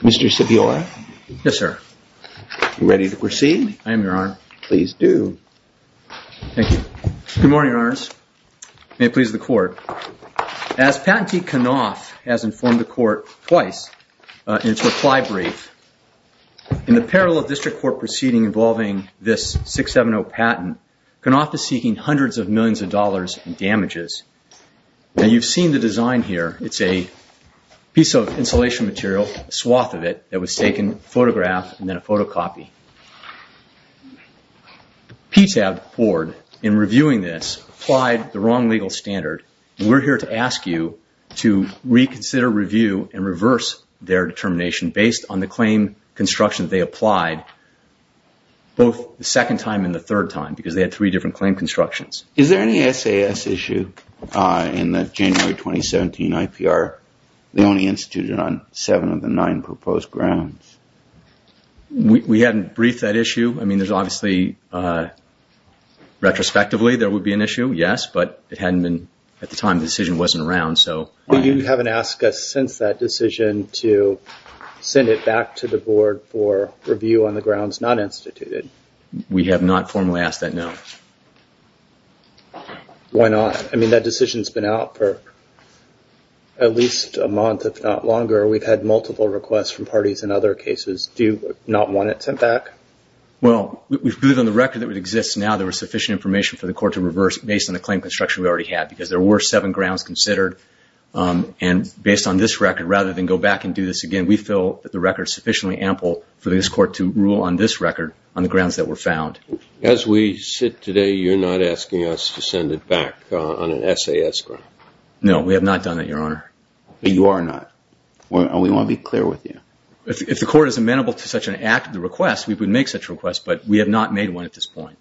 Mr. Sibiora? Yes, sir. Ready to proceed? I am, Your Honor. Please do. Thank you. Good morning, Your Honors. May it please the Court. As Patentee Knauf has informed the Court twice in its reply brief, in the parallel district court proceeding involving this 670 patent, Knauf is seeking hundreds of millions of dollars in damages. Now, you've seen the design here. It's a piece of cloth of it that was taken, photographed, and then a photocopy. PTAB Board, in reviewing this, applied the wrong legal standard. We're here to ask you to reconsider, review, and reverse their determination based on the claim construction they applied both the second time and the third time because they had three different claim constructions. Is there any SAS issue in the 2017 IPR? They only instituted on seven of the nine proposed grounds. We hadn't briefed that issue. I mean, there's obviously, retrospectively, there would be an issue, yes, but it hadn't been at the time the decision wasn't around, so. But you haven't asked us since that decision to send it back to the Board for review on the grounds not instituted. We have not formally asked that, no. Why not? I mean, that decision's been out for at least a month, if not longer. We've had multiple requests from parties in other cases. Do you not want it sent back? Well, we believe on the record that it exists now there was sufficient information for the Court to reverse based on the claim construction we already had because there were seven grounds considered. And based on this record, rather than go back and do this again, we feel that the record is sufficiently ample for this Court to rule on this record on the grounds that were found. As we sit today, you're not asking us to send it back on an SAS ground? No, we have not done that, Your Honor. But you are not. We want to be clear with you. If the Court is amenable to such an act, the request, we would make such a request, but we have not made one at this point.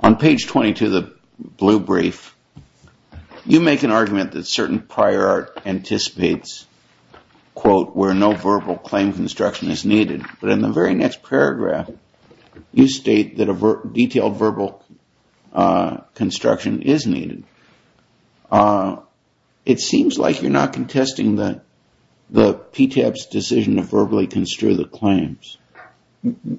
On page 22 of the blue brief, you make an argument that certain prior art anticipates, quote, where no verbal claim construction is needed. But in the very next paragraph, you state that a detailed verbal construction is needed. It seems like you're not contesting the PTAB's decision to verbally construe the claims.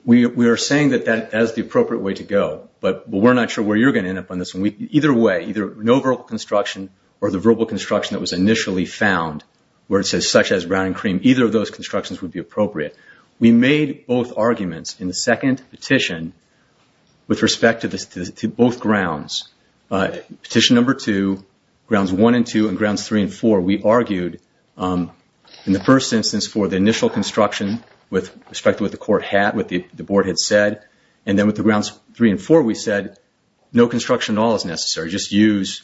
We are saying that that is the appropriate way to go, but we're not sure where you're going to end up on this one. Either way, either no verbal construction or the verbal construction that was initially found, where it says such as browning cream, either of those constructions would be appropriate. We made both arguments in the second petition with respect to both grounds. Petition number two, grounds one and two, and grounds three and four, we argued in the first instance for the initial construction with respect to what the Court had, what the Board had said. And then with the grounds three and four, we said no construction at all is necessary. Just use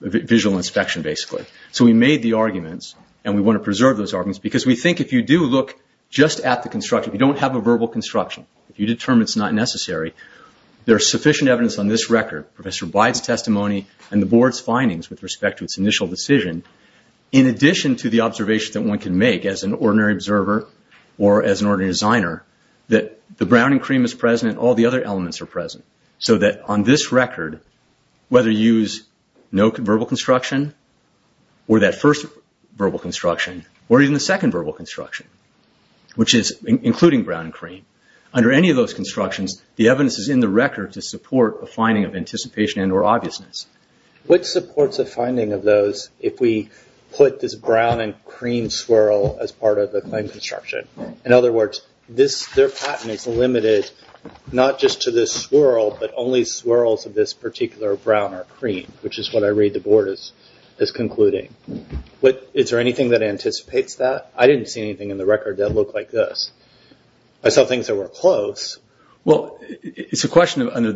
visual inspection, basically. So we made the arguments, and we want to preserve those arguments, because we think if you do look just at the construction, if you don't have a verbal construction, if you determine it's not necessary, there is sufficient evidence on this record, Professor Blyde's testimony and the decision, in addition to the observation that one can make as an ordinary observer or as an ordinary designer, that the browning cream is present and all the other elements are present. So that on this record, whether you use no verbal construction or that first verbal construction or even the second verbal construction, which is including browning cream, under any of those constructions, the evidence is in the record to support a finding of anticipation and or obviousness. What supports a finding of those if we put this brown and cream swirl as part of the claim construction? In other words, their patent is limited not just to this swirl, but only swirls of this particular brown or cream, which is what I read the Board is concluding. Is there anything that anticipates that? I didn't see anything in the record that looked like this. I saw things that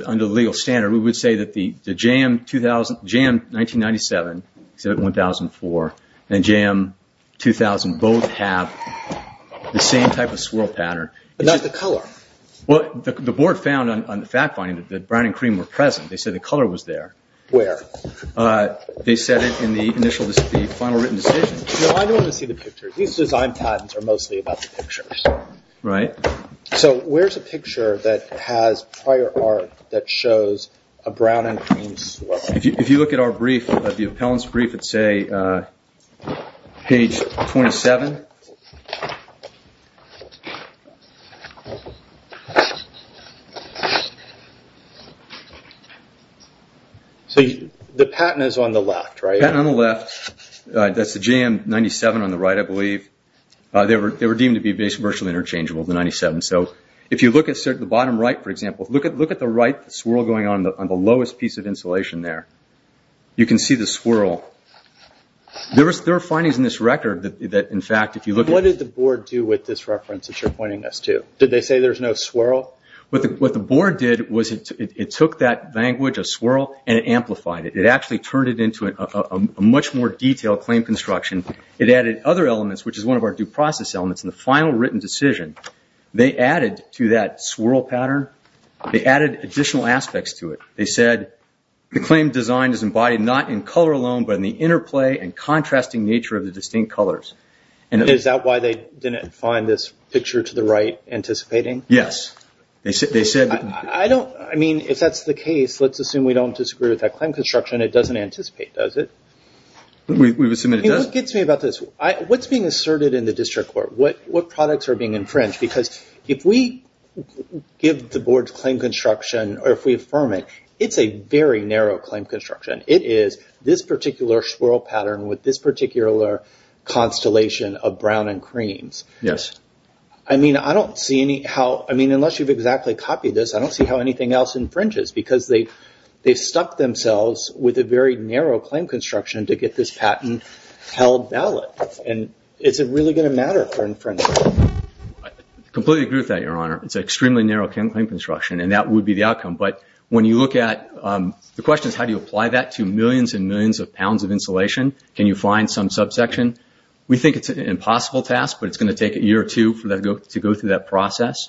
under the legal standard, we would say that the JAM 1997, except 1004, and JAM 2000 both have the same type of swirl pattern. Not the color? Well, the Board found on the fact finding that brown and cream were present. They said the color was there. Where? They said it in the initial, the final written decision. No, I don't want to see the picture. These design patents are mostly about the pictures. Right. So where's a picture that has prior art that shows a brown and cream swirl? If you look at our brief, the appellant's brief, it's page 27. So the patent is on the left, right? The patent is on the left. That's the JAM 97 on the right, I believe. They were deemed to be virtually interchangeable, the 97. So if you look at the bottom right, for example, look at the right swirl going on the lowest piece of insulation there. You can see the swirl. There are findings in this record that in fact, if you look at... What did the Board do with this reference that you're pointing us to? Did they say there's no swirl? What the Board did was it took that language, a swirl, and it added other elements, which is one of our due process elements in the final written decision. They added to that swirl pattern, they added additional aspects to it. They said, the claim design is embodied not in color alone, but in the interplay and contrasting nature of the distinct colors. Is that why they didn't find this picture to the right anticipating? Yes. I mean, if that's the case, let's assume we don't disagree with that claim construction, it doesn't anticipate, does it? We would assume that it does. What gets me about this? What's being asserted in the district court? What products are being infringed? Because if we give the Board's claim construction or if we affirm it, it's a very narrow claim construction. It is this particular swirl pattern with this particular constellation of brown and creams. Yes. I mean, I don't see any how... I mean, unless you've exactly copied this, I don't see how anything else infringes because they've stuck themselves with a very narrow claim construction to get this patent held valid. And is it really going to matter for infringement? I completely agree with that, Your Honor. It's an extremely narrow claim construction, and that would be the outcome. But when you look at... The question is, how do you apply that to millions and millions of pounds of insulation? Can you find some subsection? We think it's an impossible task, but it's going to take a year or two to go through that process,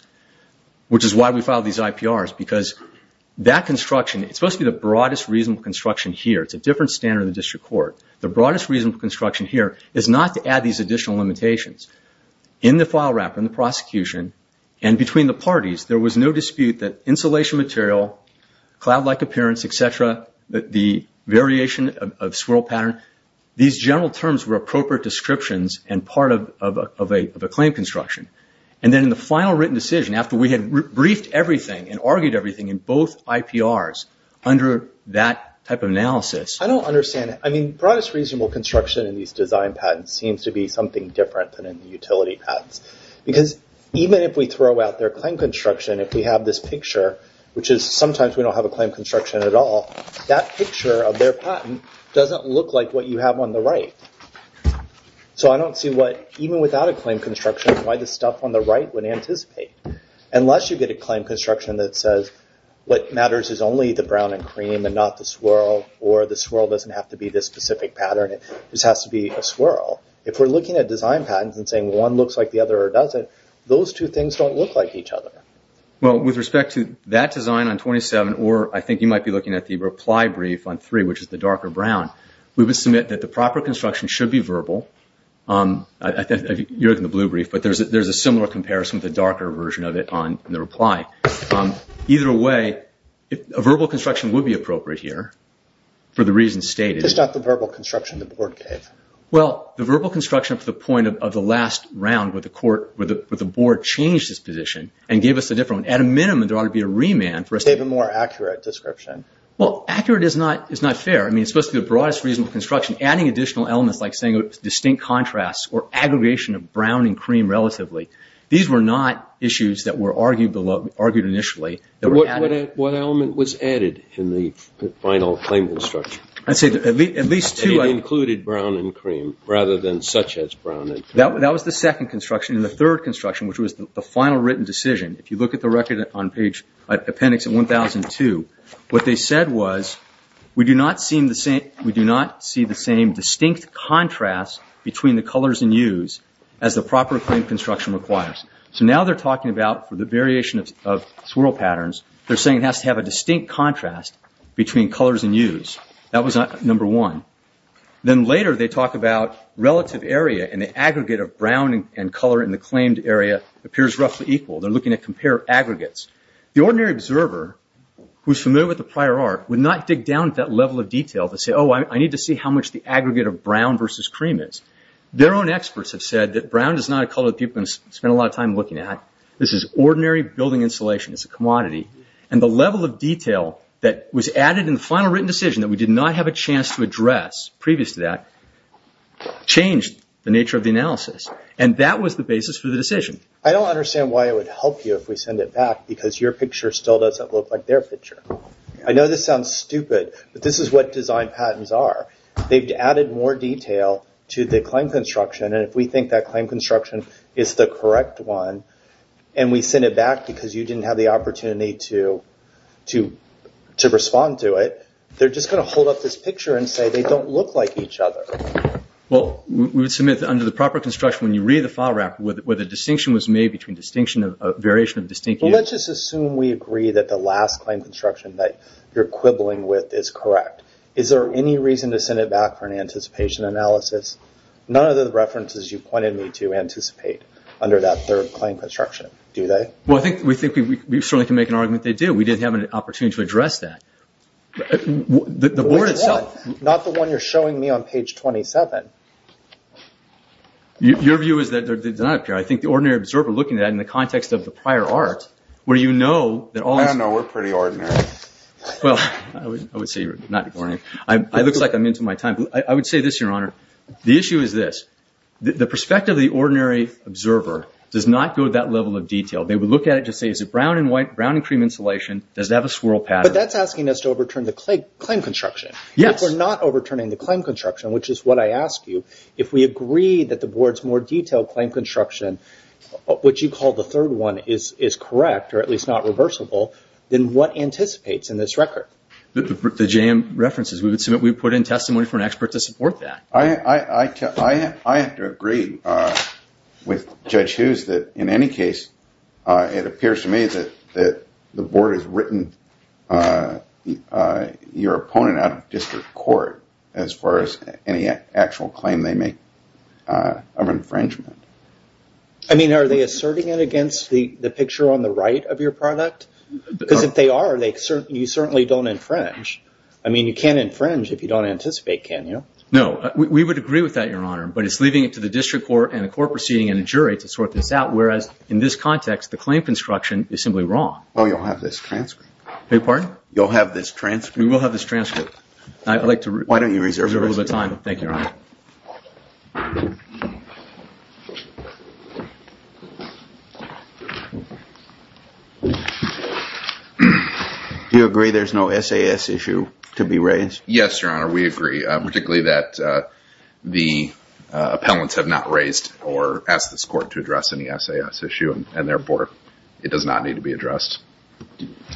which is why we filed these IPRs, because that construction, it's supposed to be the broadest reasonable construction here. It's a different standard in the district court. The broadest reasonable construction here is not to add these additional limitations. In the file wrapper, in the prosecution, and between the parties, there was no dispute that insulation material, cloud-like appearance, et cetera, the variation of swirl pattern, these general terms were appropriate descriptions and part of a claim construction. And then in the final written decision, after we had briefed everything and argued everything in both IPRs under that type of analysis... I don't understand it. Broadest reasonable construction in these design patents seems to be something different than in the utility patents, because even if we throw out their claim construction, if we have this picture, which is sometimes we don't have a claim construction at all, that picture of their patent doesn't look like what you have on the right. So I don't see what... Even without a claim construction, the stuff on the right would anticipate. Unless you get a claim construction that says what matters is only the brown and cream and not the swirl, or the swirl doesn't have to be this specific pattern. It just has to be a swirl. If we're looking at design patents and saying one looks like the other or doesn't, those two things don't look like each other. Well, with respect to that design on 27, or I think you might be looking at the reply brief on three, which is the darker brown, we would submit that the proper construction should be a similar comparison with the darker version of it on the reply. Either way, a verbal construction would be appropriate here for the reasons stated. Just not the verbal construction the board gave. Well, the verbal construction up to the point of the last round with the board changed this position and gave us a different one. At a minimum, there ought to be a remand for us... They gave a more accurate description. Well, accurate is not fair. I mean, it's supposed to be the broadest reasonable construction. Adding additional elements, like saying distinct contrasts or aggregation of brown and cream relatively, these were not issues that were argued initially. What element was added in the final claim construction? I'd say at least two. It included brown and cream rather than such as brown and cream. That was the second construction. In the third construction, which was the final written decision, if you look at the record on page appendix 1002, what they said was, we do not see the same distinct contrast between the colors and hues as the proper claim construction requires. Now they're talking about, for the variation of swirl patterns, they're saying it has to have a distinct contrast between colors and hues. That was number one. Then later, they talk about relative area and the aggregate of brown and color in the claimed area appears roughly equal. They're looking to compare aggregates. The ordinary observer, who's familiar with the prior art, would not dig down to that level of detail to say, oh, I need to see how much the aggregate of brown versus cream is. Their own experts have said that brown is not a color that people spend a lot of time looking at. This is ordinary building insulation. It's a commodity. The level of detail that was added in the final written decision that we did not have a chance to address previous to that changed the nature of the analysis. That was the basis for the decision. I don't understand why it would help you if we send it back because your picture still doesn't look like their picture. I know this sounds stupid, but this is what design patents are. They've added more detail to the claim construction. If we think that claim construction is the correct one and we send it back because you didn't have the opportunity to respond to it, they're just going to hold up this picture and say they don't look like each other. We would submit under the proper construction, you read the file record where the distinction was made between variation of distinction. Let's just assume we agree that the last claim construction that you're quibbling with is correct. Is there any reason to send it back for an anticipation analysis? None of the references you pointed me to anticipate under that third claim construction, do they? We certainly can make an argument they do. We did have an opportunity to address that. The board itself... The one you're showing me on page 27. Your view is that I think the ordinary observer looking at it in the context of the prior art, where you know that all... I know we're pretty ordinary. Well, I would say you're not boring. I look like I'm into my time. I would say this, Your Honor. The issue is this. The perspective of the ordinary observer does not go to that level of detail. They would look at it to say, is it brown and white, brown and cream insulation? Does it have a swirl pattern? That's asking us to overturn the claim construction. If we're not overturning the claim construction, which is what I asked you, if we agree that the board's more detailed claim construction, which you call the third one, is correct, or at least not reversible, then what anticipates in this record? The JM references. We would submit we put in testimony for an expert to support that. I have to agree with Judge Hughes that, in any case, it appears to me that the board has written your opponent out of district court as far as any actual claim they make of infringement. I mean, are they asserting it against the picture on the right of your product? Because if they are, you certainly don't infringe. I mean, you can't infringe if you don't anticipate, can you? No, we would agree with that, Your Honor, but it's leaving it to the district court and a court proceeding and a jury to sort this out, whereas in this context, the claim construction is simply wrong. Well, you'll have this transcript. Beg your pardon? You'll have this transcript. We will have this transcript. I'd like to reserve a little bit of time. Thank you, Your Honor. Do you agree there's no SAS issue to be raised? Yes, Your Honor, we agree, particularly that the appellants have not raised or asked this court to address any SAS issue, and therefore, it does not need to be addressed.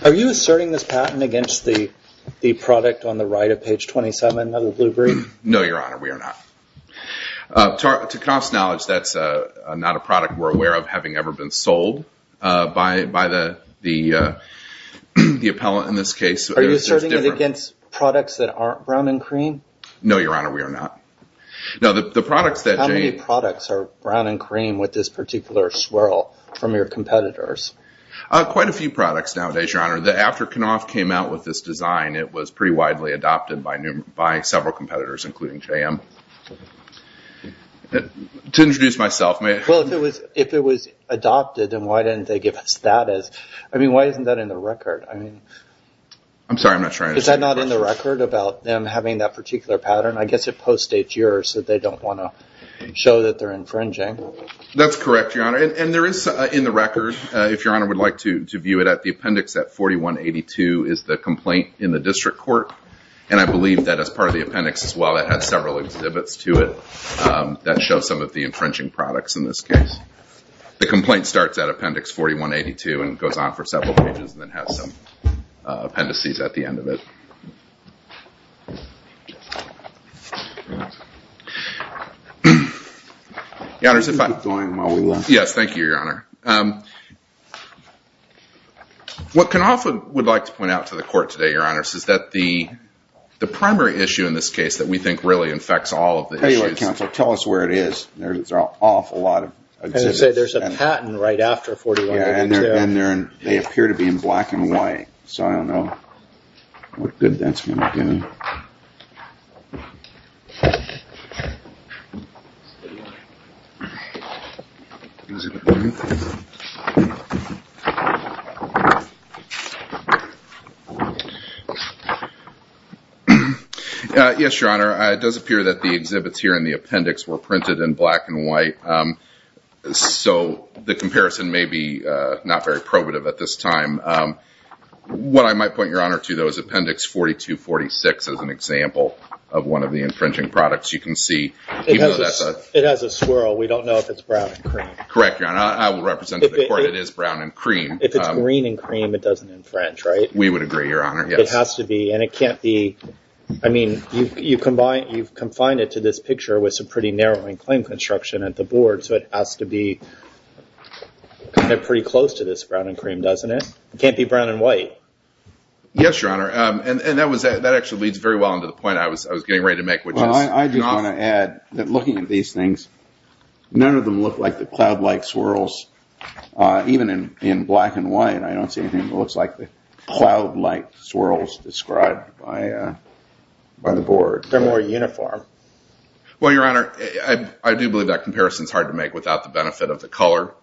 Are you asserting this patent against the product on the right of page 27 of the blue brief? No, Your Honor, we are not. To Knauf's knowledge, that's not a product we're aware of having ever been sold by the appellant in this case. Are you asserting it against products that we are aware of? No, Your Honor, we are not. How many products are brown and cream with this particular swirl from your competitors? Quite a few products nowadays, Your Honor. After Knauf came out with this design, it was pretty widely adopted by several competitors, including JM. To introduce myself, may I? Well, if it was adopted, then why didn't they give us that as... I mean, why isn't that in the record? I mean... I'm sorry, I'm not trying to... Is that not in the record about them that particular pattern? I guess it post-states yours that they don't want to show that they're infringing. That's correct, Your Honor. And there is, in the record, if Your Honor would like to view it at the appendix at 4182, is the complaint in the district court. And I believe that as part of the appendix as well, it had several exhibits to it that show some of the infringing products in this case. The complaint starts at appendix 4182 and goes on for several pages and then has some appendices at the end of it. Your Honor, if I... Keep going while we... Yes, thank you, Your Honor. What Knauf would like to point out to the court today, Your Honor, is that the primary issue in this case that we think really infects all of the issues... Anyway, counsel, tell us where it is. There's an awful lot of exhibits. I was going to say, there's a patent right after 4182. Yeah, and they appear to be in black and white, so I don't know what good that's going to do. Yes, Your Honor, it does appear that the exhibits here in the appendix were printed in black and white, so the comparison may be not very probative at this time. What I might point Your Honor to, is appendix 4246 as an example of one of the infringing products you can see. It has a swirl. We don't know if it's brown and cream. Correct, Your Honor. I will represent to the court it is brown and cream. If it's green and cream, it doesn't infringe, right? We would agree, Your Honor. Yes. It has to be, and it can't be... I mean, you've confined it to this picture with some pretty narrowing claim construction at the board, so it has to be pretty close to this brown and cream, doesn't it? It can't be brown and white. Yes, Your Honor, and that actually leads very well into the point I was getting ready to make. Well, I just want to add that looking at these things, none of them look like the cloud-like swirls. Even in black and white, I don't see anything that looks like the cloud-like swirls described by the board. They're more uniform. Well, Your Honor, I do believe that comparison's hard to make without the benefit of the color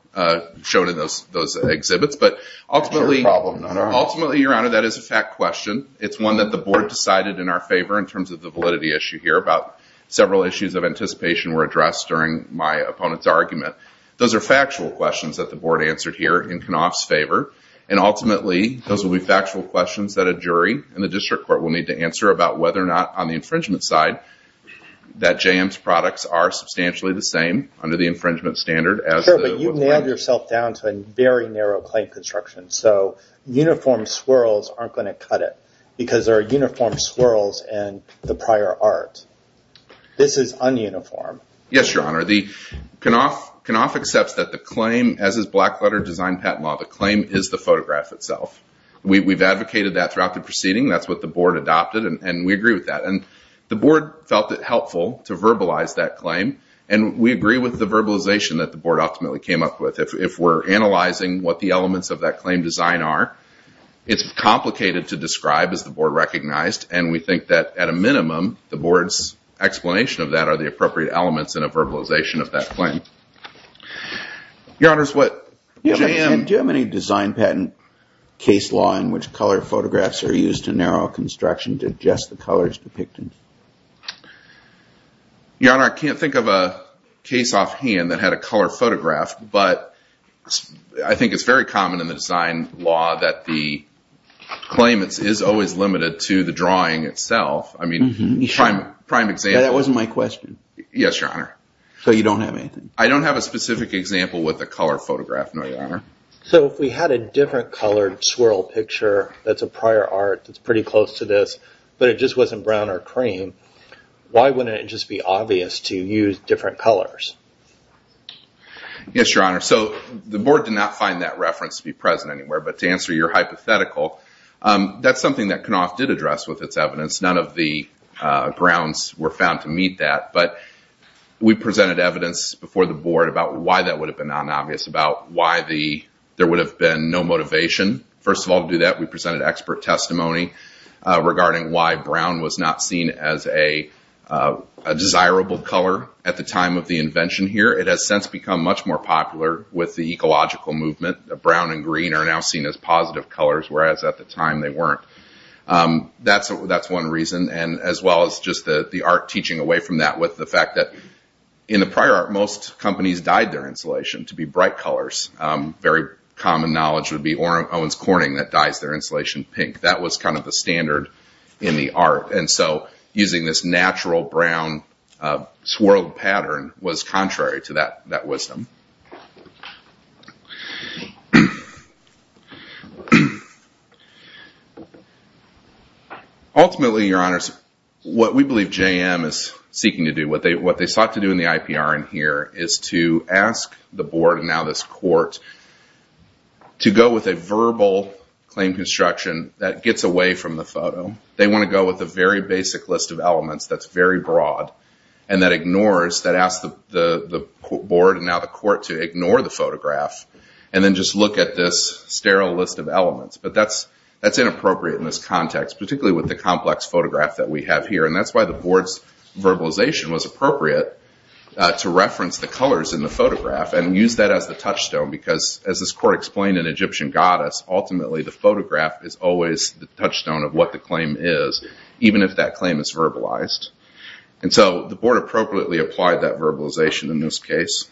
shown in those exhibits, but ultimately... No problem, Your Honor. Ultimately, Your Honor, that is a fact question. It's one that the board decided in our favor in terms of the validity issue here about several issues of anticipation were addressed during my opponent's argument. Those are factual questions that the board answered here in Knopf's favor, and ultimately, those will be factual questions that a jury and the district court will need to answer about whether or not on the infringement side that JM's products are substantially the under the infringement standard as... Sure, but you've nailed yourself down to a very narrow claim construction, so uniform swirls aren't going to cut it because there are uniform swirls in the prior art. This is un-uniform. Yes, Your Honor. Knopf accepts that the claim, as is black-letter design patent law, the claim is the photograph itself. We've advocated that throughout the proceeding. That's what the board adopted, and we agree with that. The board felt it helpful to verbalize that verbalization that the board ultimately came up with. If we're analyzing what the elements of that claim design are, it's complicated to describe as the board recognized, and we think that at a minimum, the board's explanation of that are the appropriate elements in a verbalization of that claim. Your Honor, it's what JM... Do you have any design patent case law in which color photographs are used to narrow construction to adjust the colors depicted? Your Honor, I can't think of a case offhand that had a color photograph, but I think it's very common in the design law that the claim is always limited to the drawing itself. I mean, prime example... That wasn't my question. Yes, Your Honor. So you don't have anything? I don't have a specific example with a color photograph, no, Your Honor. So if we had a different colored swirl picture that's a prior art that's pretty close to this, but it just wasn't brown or cream, why wouldn't it just be obvious to use different colors? Yes, Your Honor. So the board did not find that reference to be present anywhere, but to answer your hypothetical, that's something that Knopf did address with its evidence. None of the grounds were found to meet that, but we presented evidence before the board about why that would have been unobvious, about why there would have been no motivation. First of all, we presented expert testimony regarding why brown was not seen as a desirable color at the time of the invention here. It has since become much more popular with the ecological movement. Brown and green are now seen as positive colors, whereas at the time they weren't. That's one reason, and as well as just the art teaching away from that with the fact that in the prior art, most companies dyed their insulation to be bright colors. Very common knowledge would be Owens their insulation pink. That was kind of the standard in the art, and so using this natural brown swirled pattern was contrary to that wisdom. Ultimately, Your Honors, what we believe JM is seeking to do, what they sought to do in the IPR in here is to ask the board, and now this court, to go with a verbal claim construction that gets away from the photo. They want to go with a very basic list of elements that's very broad and that asks the board, and now the court, to ignore the photograph and then just look at this sterile list of elements. That's inappropriate in this context, particularly with the complex photograph that we have here. That's why the board's verbalization was appropriate to reference the colors in the photograph and use that as the court explained an Egyptian goddess. Ultimately, the photograph is always the touchstone of what the claim is, even if that claim is verbalized. The board appropriately applied that verbalization in this case.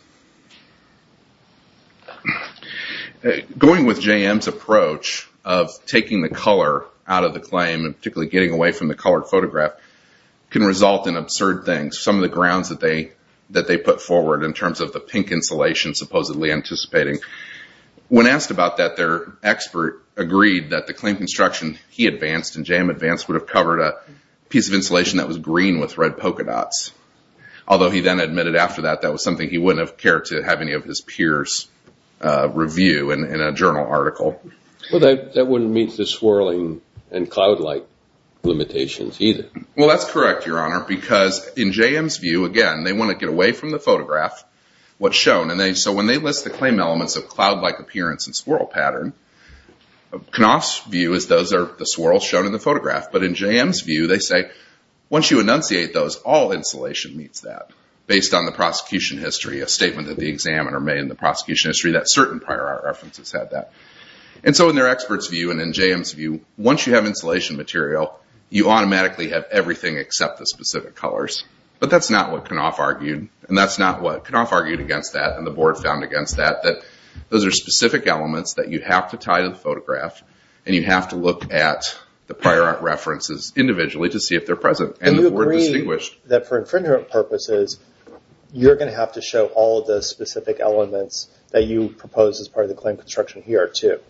Going with JM's approach of taking the color out of the claim and particularly getting away from the colored photograph can result in absurd things. Some of the grounds that they put forward in terms of the pink insulation supposedly anticipating, when asked about that, their expert agreed that the claim construction he advanced and JM advanced would have covered a piece of insulation that was green with red polka dots. Although he then admitted after that, that was something he wouldn't have cared to have any of his peers review in a journal article. Well, that wouldn't meet the swirling and cloud light limitations either. Well, that's correct, Your Honor, because in JM's view, again, they want to get away from the photograph, what's shown. When they list the claim elements of cloud-like appearance and swirl pattern, Knopf's view is those are the swirls shown in the photograph. In JM's view, they say, once you enunciate those, all insulation meets that based on the prosecution history, a statement that the examiner made in the prosecution history that certain prior art references had that. In their expert's view and in JM's view, once you have insulation material, you automatically have everything except the specific colors, but that's not what Knopf argued and that's not what Knopf argued against that and the board found against that, that those are specific elements that you have to tie to the photograph and you have to look at the prior art references individually to see if they're present and the board distinguished. Do you agree that for infringement purposes, you're going to have to show all of the specific elements that you propose as part of the claim construction here too?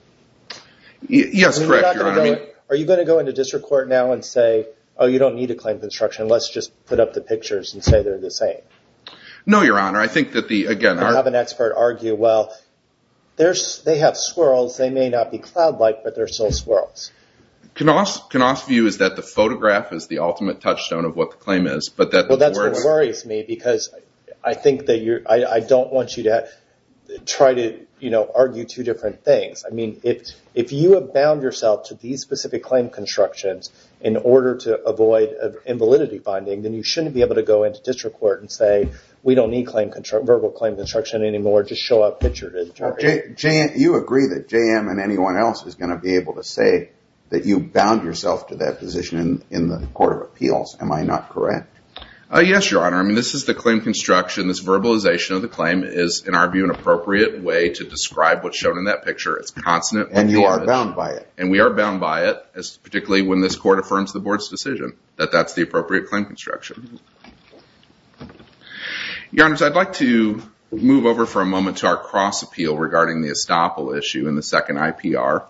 Yes, correct, Your Honor. Are you going to go into district court now and say, oh, you don't need to claim construction, let's just put up the pictures and say they're the same? No, Your Honor. I think that the, again- You have an expert argue, well, they have swirls, they may not be cloud-like, but they're still swirls. Knopf's view is that the photograph is the ultimate touchstone of what the claim is, but that the board- That's what worries me because I don't want you to try to argue two different things. If you bound yourself to these specific claim constructions in order to avoid an invalidity finding, then you shouldn't be able to go into district court and say, we don't need verbal claim construction anymore, just show up pictured in the photograph. You agree that JM and anyone else is going to be able to say that you bound yourself to that position in the court of appeals, am I not correct? Yes, Your Honor. This is the claim construction, this verbalization of the claim is, in our view, an appropriate way to describe what's shown in that picture. It's consonant- And you are bound by it. We are bound by it, particularly when this court affirms the board's decision that that's the appropriate claim construction. Your Honors, I'd like to move over for a moment to our cross-appeal regarding the estoppel issue in the second IPR.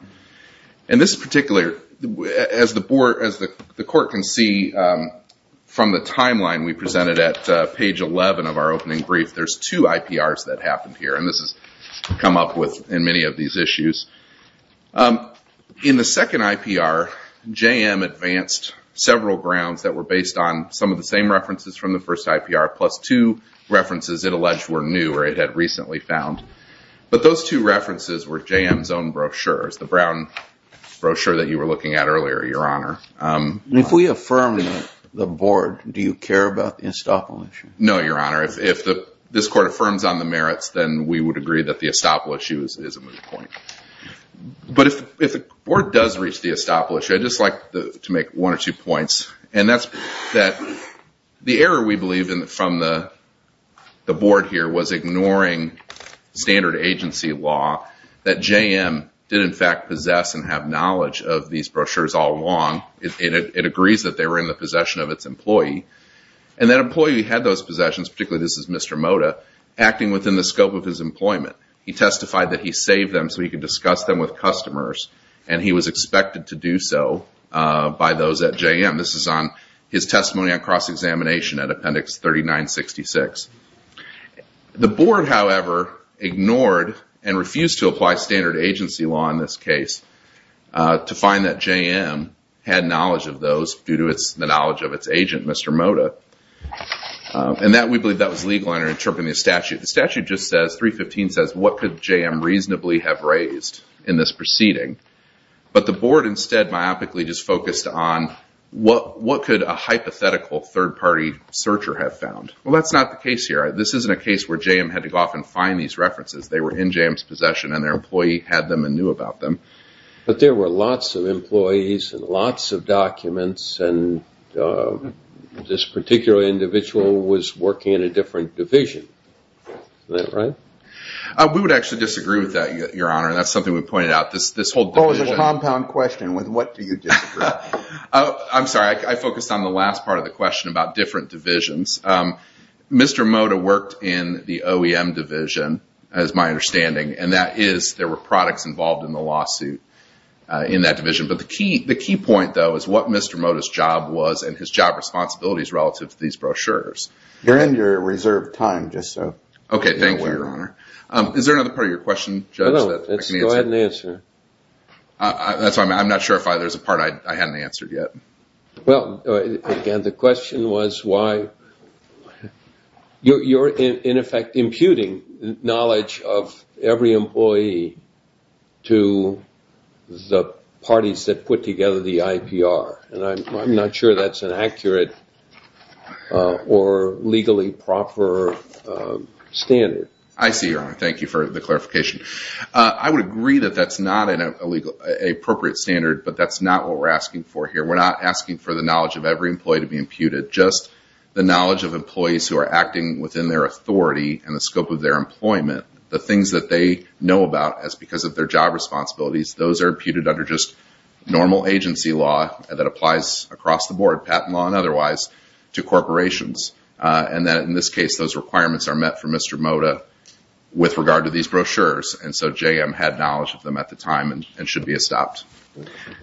This is particular, as the court can see from the timeline we presented at page 11 of our opening brief, there's two IPRs that happened here. This has come up in many of these issues. In the second IPR, JM advanced several grounds that were based on some of the same references from the first IPR, plus two references it alleged were new or it had recently found. But those two references were JM's own brochures, the brown brochure that you were looking at earlier, Your Honor. If we affirm the board, do you care about the estoppel issue? No, Your Honor. If this court affirms on the merits, then we would agree that the estoppel issue is a moot point. But if the board does reach the estoppel issue, I'd just like to make one or two points. And that's that the error we believe from the board here was ignoring standard agency law, that JM did in fact possess and have knowledge of these brochures all along. It agrees that they were in the possession of its employee. And that employee had those possessions, particularly this is Mr. Moda, acting within the scope of his employment. He testified that he saved them so he could discuss them with customers and he was expected to do so by those at JM. This is on his testimony on cross-examination at Appendix 3966. The board, however, ignored and refused to apply standard agency law in this case to find that JM had knowledge of those due to the knowledge of its agent, Mr. Moda. And we believe that was legal under interpreting the statute. The statute just says, 315 says, what could JM reasonably have raised in this proceeding? But the board instead myopically just focused on what could a hypothetical third party searcher have found? Well, that's not the case here. This isn't a case where JM had to go off and find these references. They were in JM's possession and their employee had them and knew about them. But there were lots of employees and lots of documents and this particular individual was working in a different division. Is that right? We would actually disagree with that, Your Honor. And that's something we pointed out. This whole division- It's a compound question with what do you disagree? I'm sorry. I focused on the last part of the question about different divisions. Mr. Moda worked in the OEM division, as my understanding, and that is there were products involved in the lawsuit in that division. But the key point, though, is what Mr. Moda's job was and his job responsibilities relative to these brochures. You're in your reserved time, just so. Okay. Thank you, Your Honor. Is there another part of your question, Judge? No. Go ahead and answer. I'm not sure if there's a part I hadn't answered yet. Well, again, the question was why you're, in effect, imputing knowledge of every employee to the parties that put together the IPR. And I'm not sure that's an accurate or legally proper standard. I see, Your Honor. Thank you for the clarification. I would agree that that's not an appropriate standard, but that's not what we're asking for here. We're not asking for the knowledge of every acting within their authority and the scope of their employment. The things that they know about as because of their job responsibilities, those are imputed under just normal agency law that applies across the board, patent law and otherwise, to corporations. And that, in this case, those requirements are met for Mr. Moda with regard to these brochures. And so JM had knowledge of them at the time and should be stopped.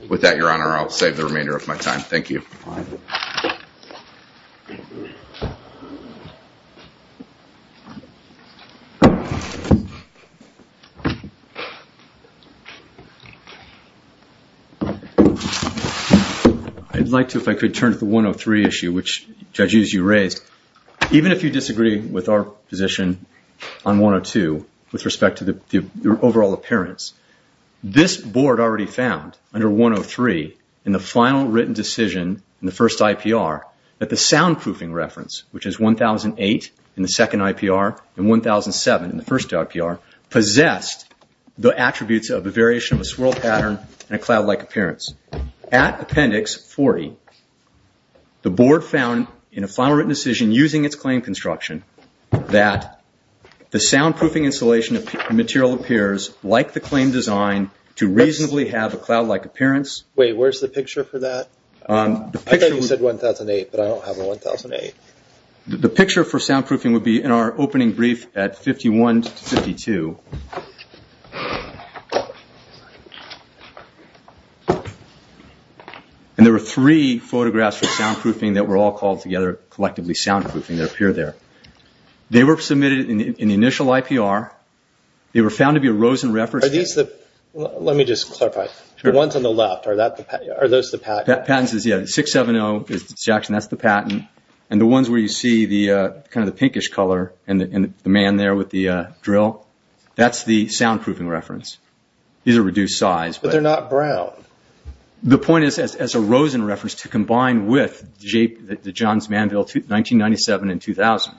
With that, Your Honor, I'll save the remainder of my time. Thank you. I'd like to, if I could, turn to the 103 issue, which, Judge Hughes, you raised. Even if you disagree with our position on 102 with respect to the overall appearance, this board already found, under 103, in the final written decision in the first IPR, that the soundproofing reference, which is 1008 in the second IPR and 1007 in the first IPR, possessed the attributes of a variation of a swirl pattern and a cloud-like appearance. At Appendix 40, the board found, in a final written decision using its claim construction, that the soundproofing installation material appears, like the claim design, to reasonably have a cloud-like appearance. Wait, where's the picture for that? The picture would... I thought you said 1008, but I don't have a 1008. The picture for soundproofing would be in our opening brief at 51 to 52. And there were three photographs for soundproofing that were all called together collectively soundproofing that appear there. They were submitted in the initial IPR. They were found to be a Rosen reference. Let me just clarify. The ones on the left, are those the patents? Patents, yes. 670 is Jackson. That's the patent. And the ones where you see the pinkish color and the man there with the drill, that's the soundproofing reference. These are reduced size. But they're not brown. The point is, as a Rosen reference, to combine with the Johns Manville 1997 and 2000,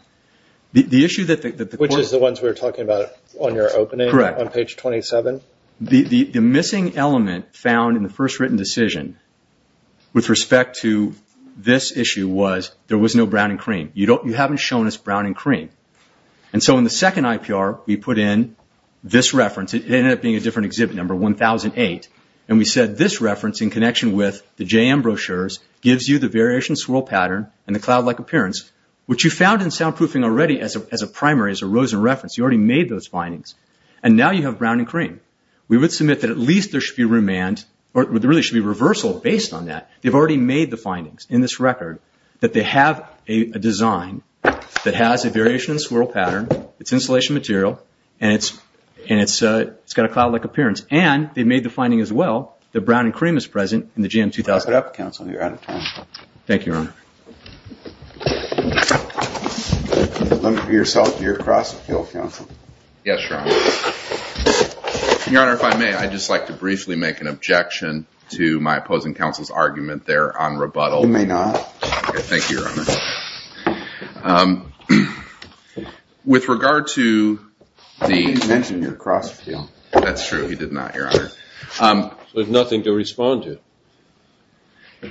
the issue that the... Which is the ones we were talking about on your opening, on page 27? Correct. The missing element found in the first written decision, with respect to this issue, was there was no brown and cream. You haven't shown us brown and cream. And so in the second IPR, we put in this reference. It ended up being a different exhibit number, 1008. And we said this reference, in connection with the JM brochures, gives you the variation swirl pattern and the cloud-like appearance, which you found in soundproofing already as a primary, as a Rosen reference. You already made those findings. And now you have brown and cream. We would submit that at least there should be remand, or there really should be reversal based on that. They've already made the findings in this record, that they have a design that has variation in the swirl pattern, it's insulation material, and it's got a cloud-like appearance. And they've made the finding as well, that brown and cream is present in the JM 2000. Wrap it up, counsel. You're out of time. Thank you, Your Honor. Let me be yourself here across the field, counsel. Yes, Your Honor. Your Honor, if I may, I'd just like to briefly make an objection to my opposing counsel's argument there on rebuttal. You may not. Thank you, Your Honor. With regard to the- You didn't mention you're across the field. That's true. He did not, Your Honor. So there's nothing to respond to.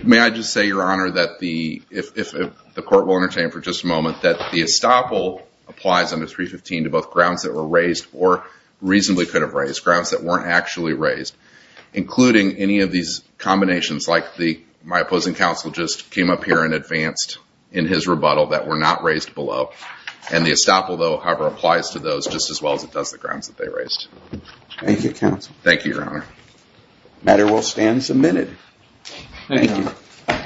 May I just say, Your Honor, that if the court will entertain for just a moment, that the estoppel applies under 315 to both grounds that were raised or reasonably could have raised, grounds that weren't actually raised, including any of these combinations, like my opposing counsel just came up here and advanced in his rebuttal that were not raised below. And the estoppel, though, however, applies to those just as well as it does the grounds that they raised. Thank you, counsel. Thank you, Your Honor. Matter will stand submitted. Thank you.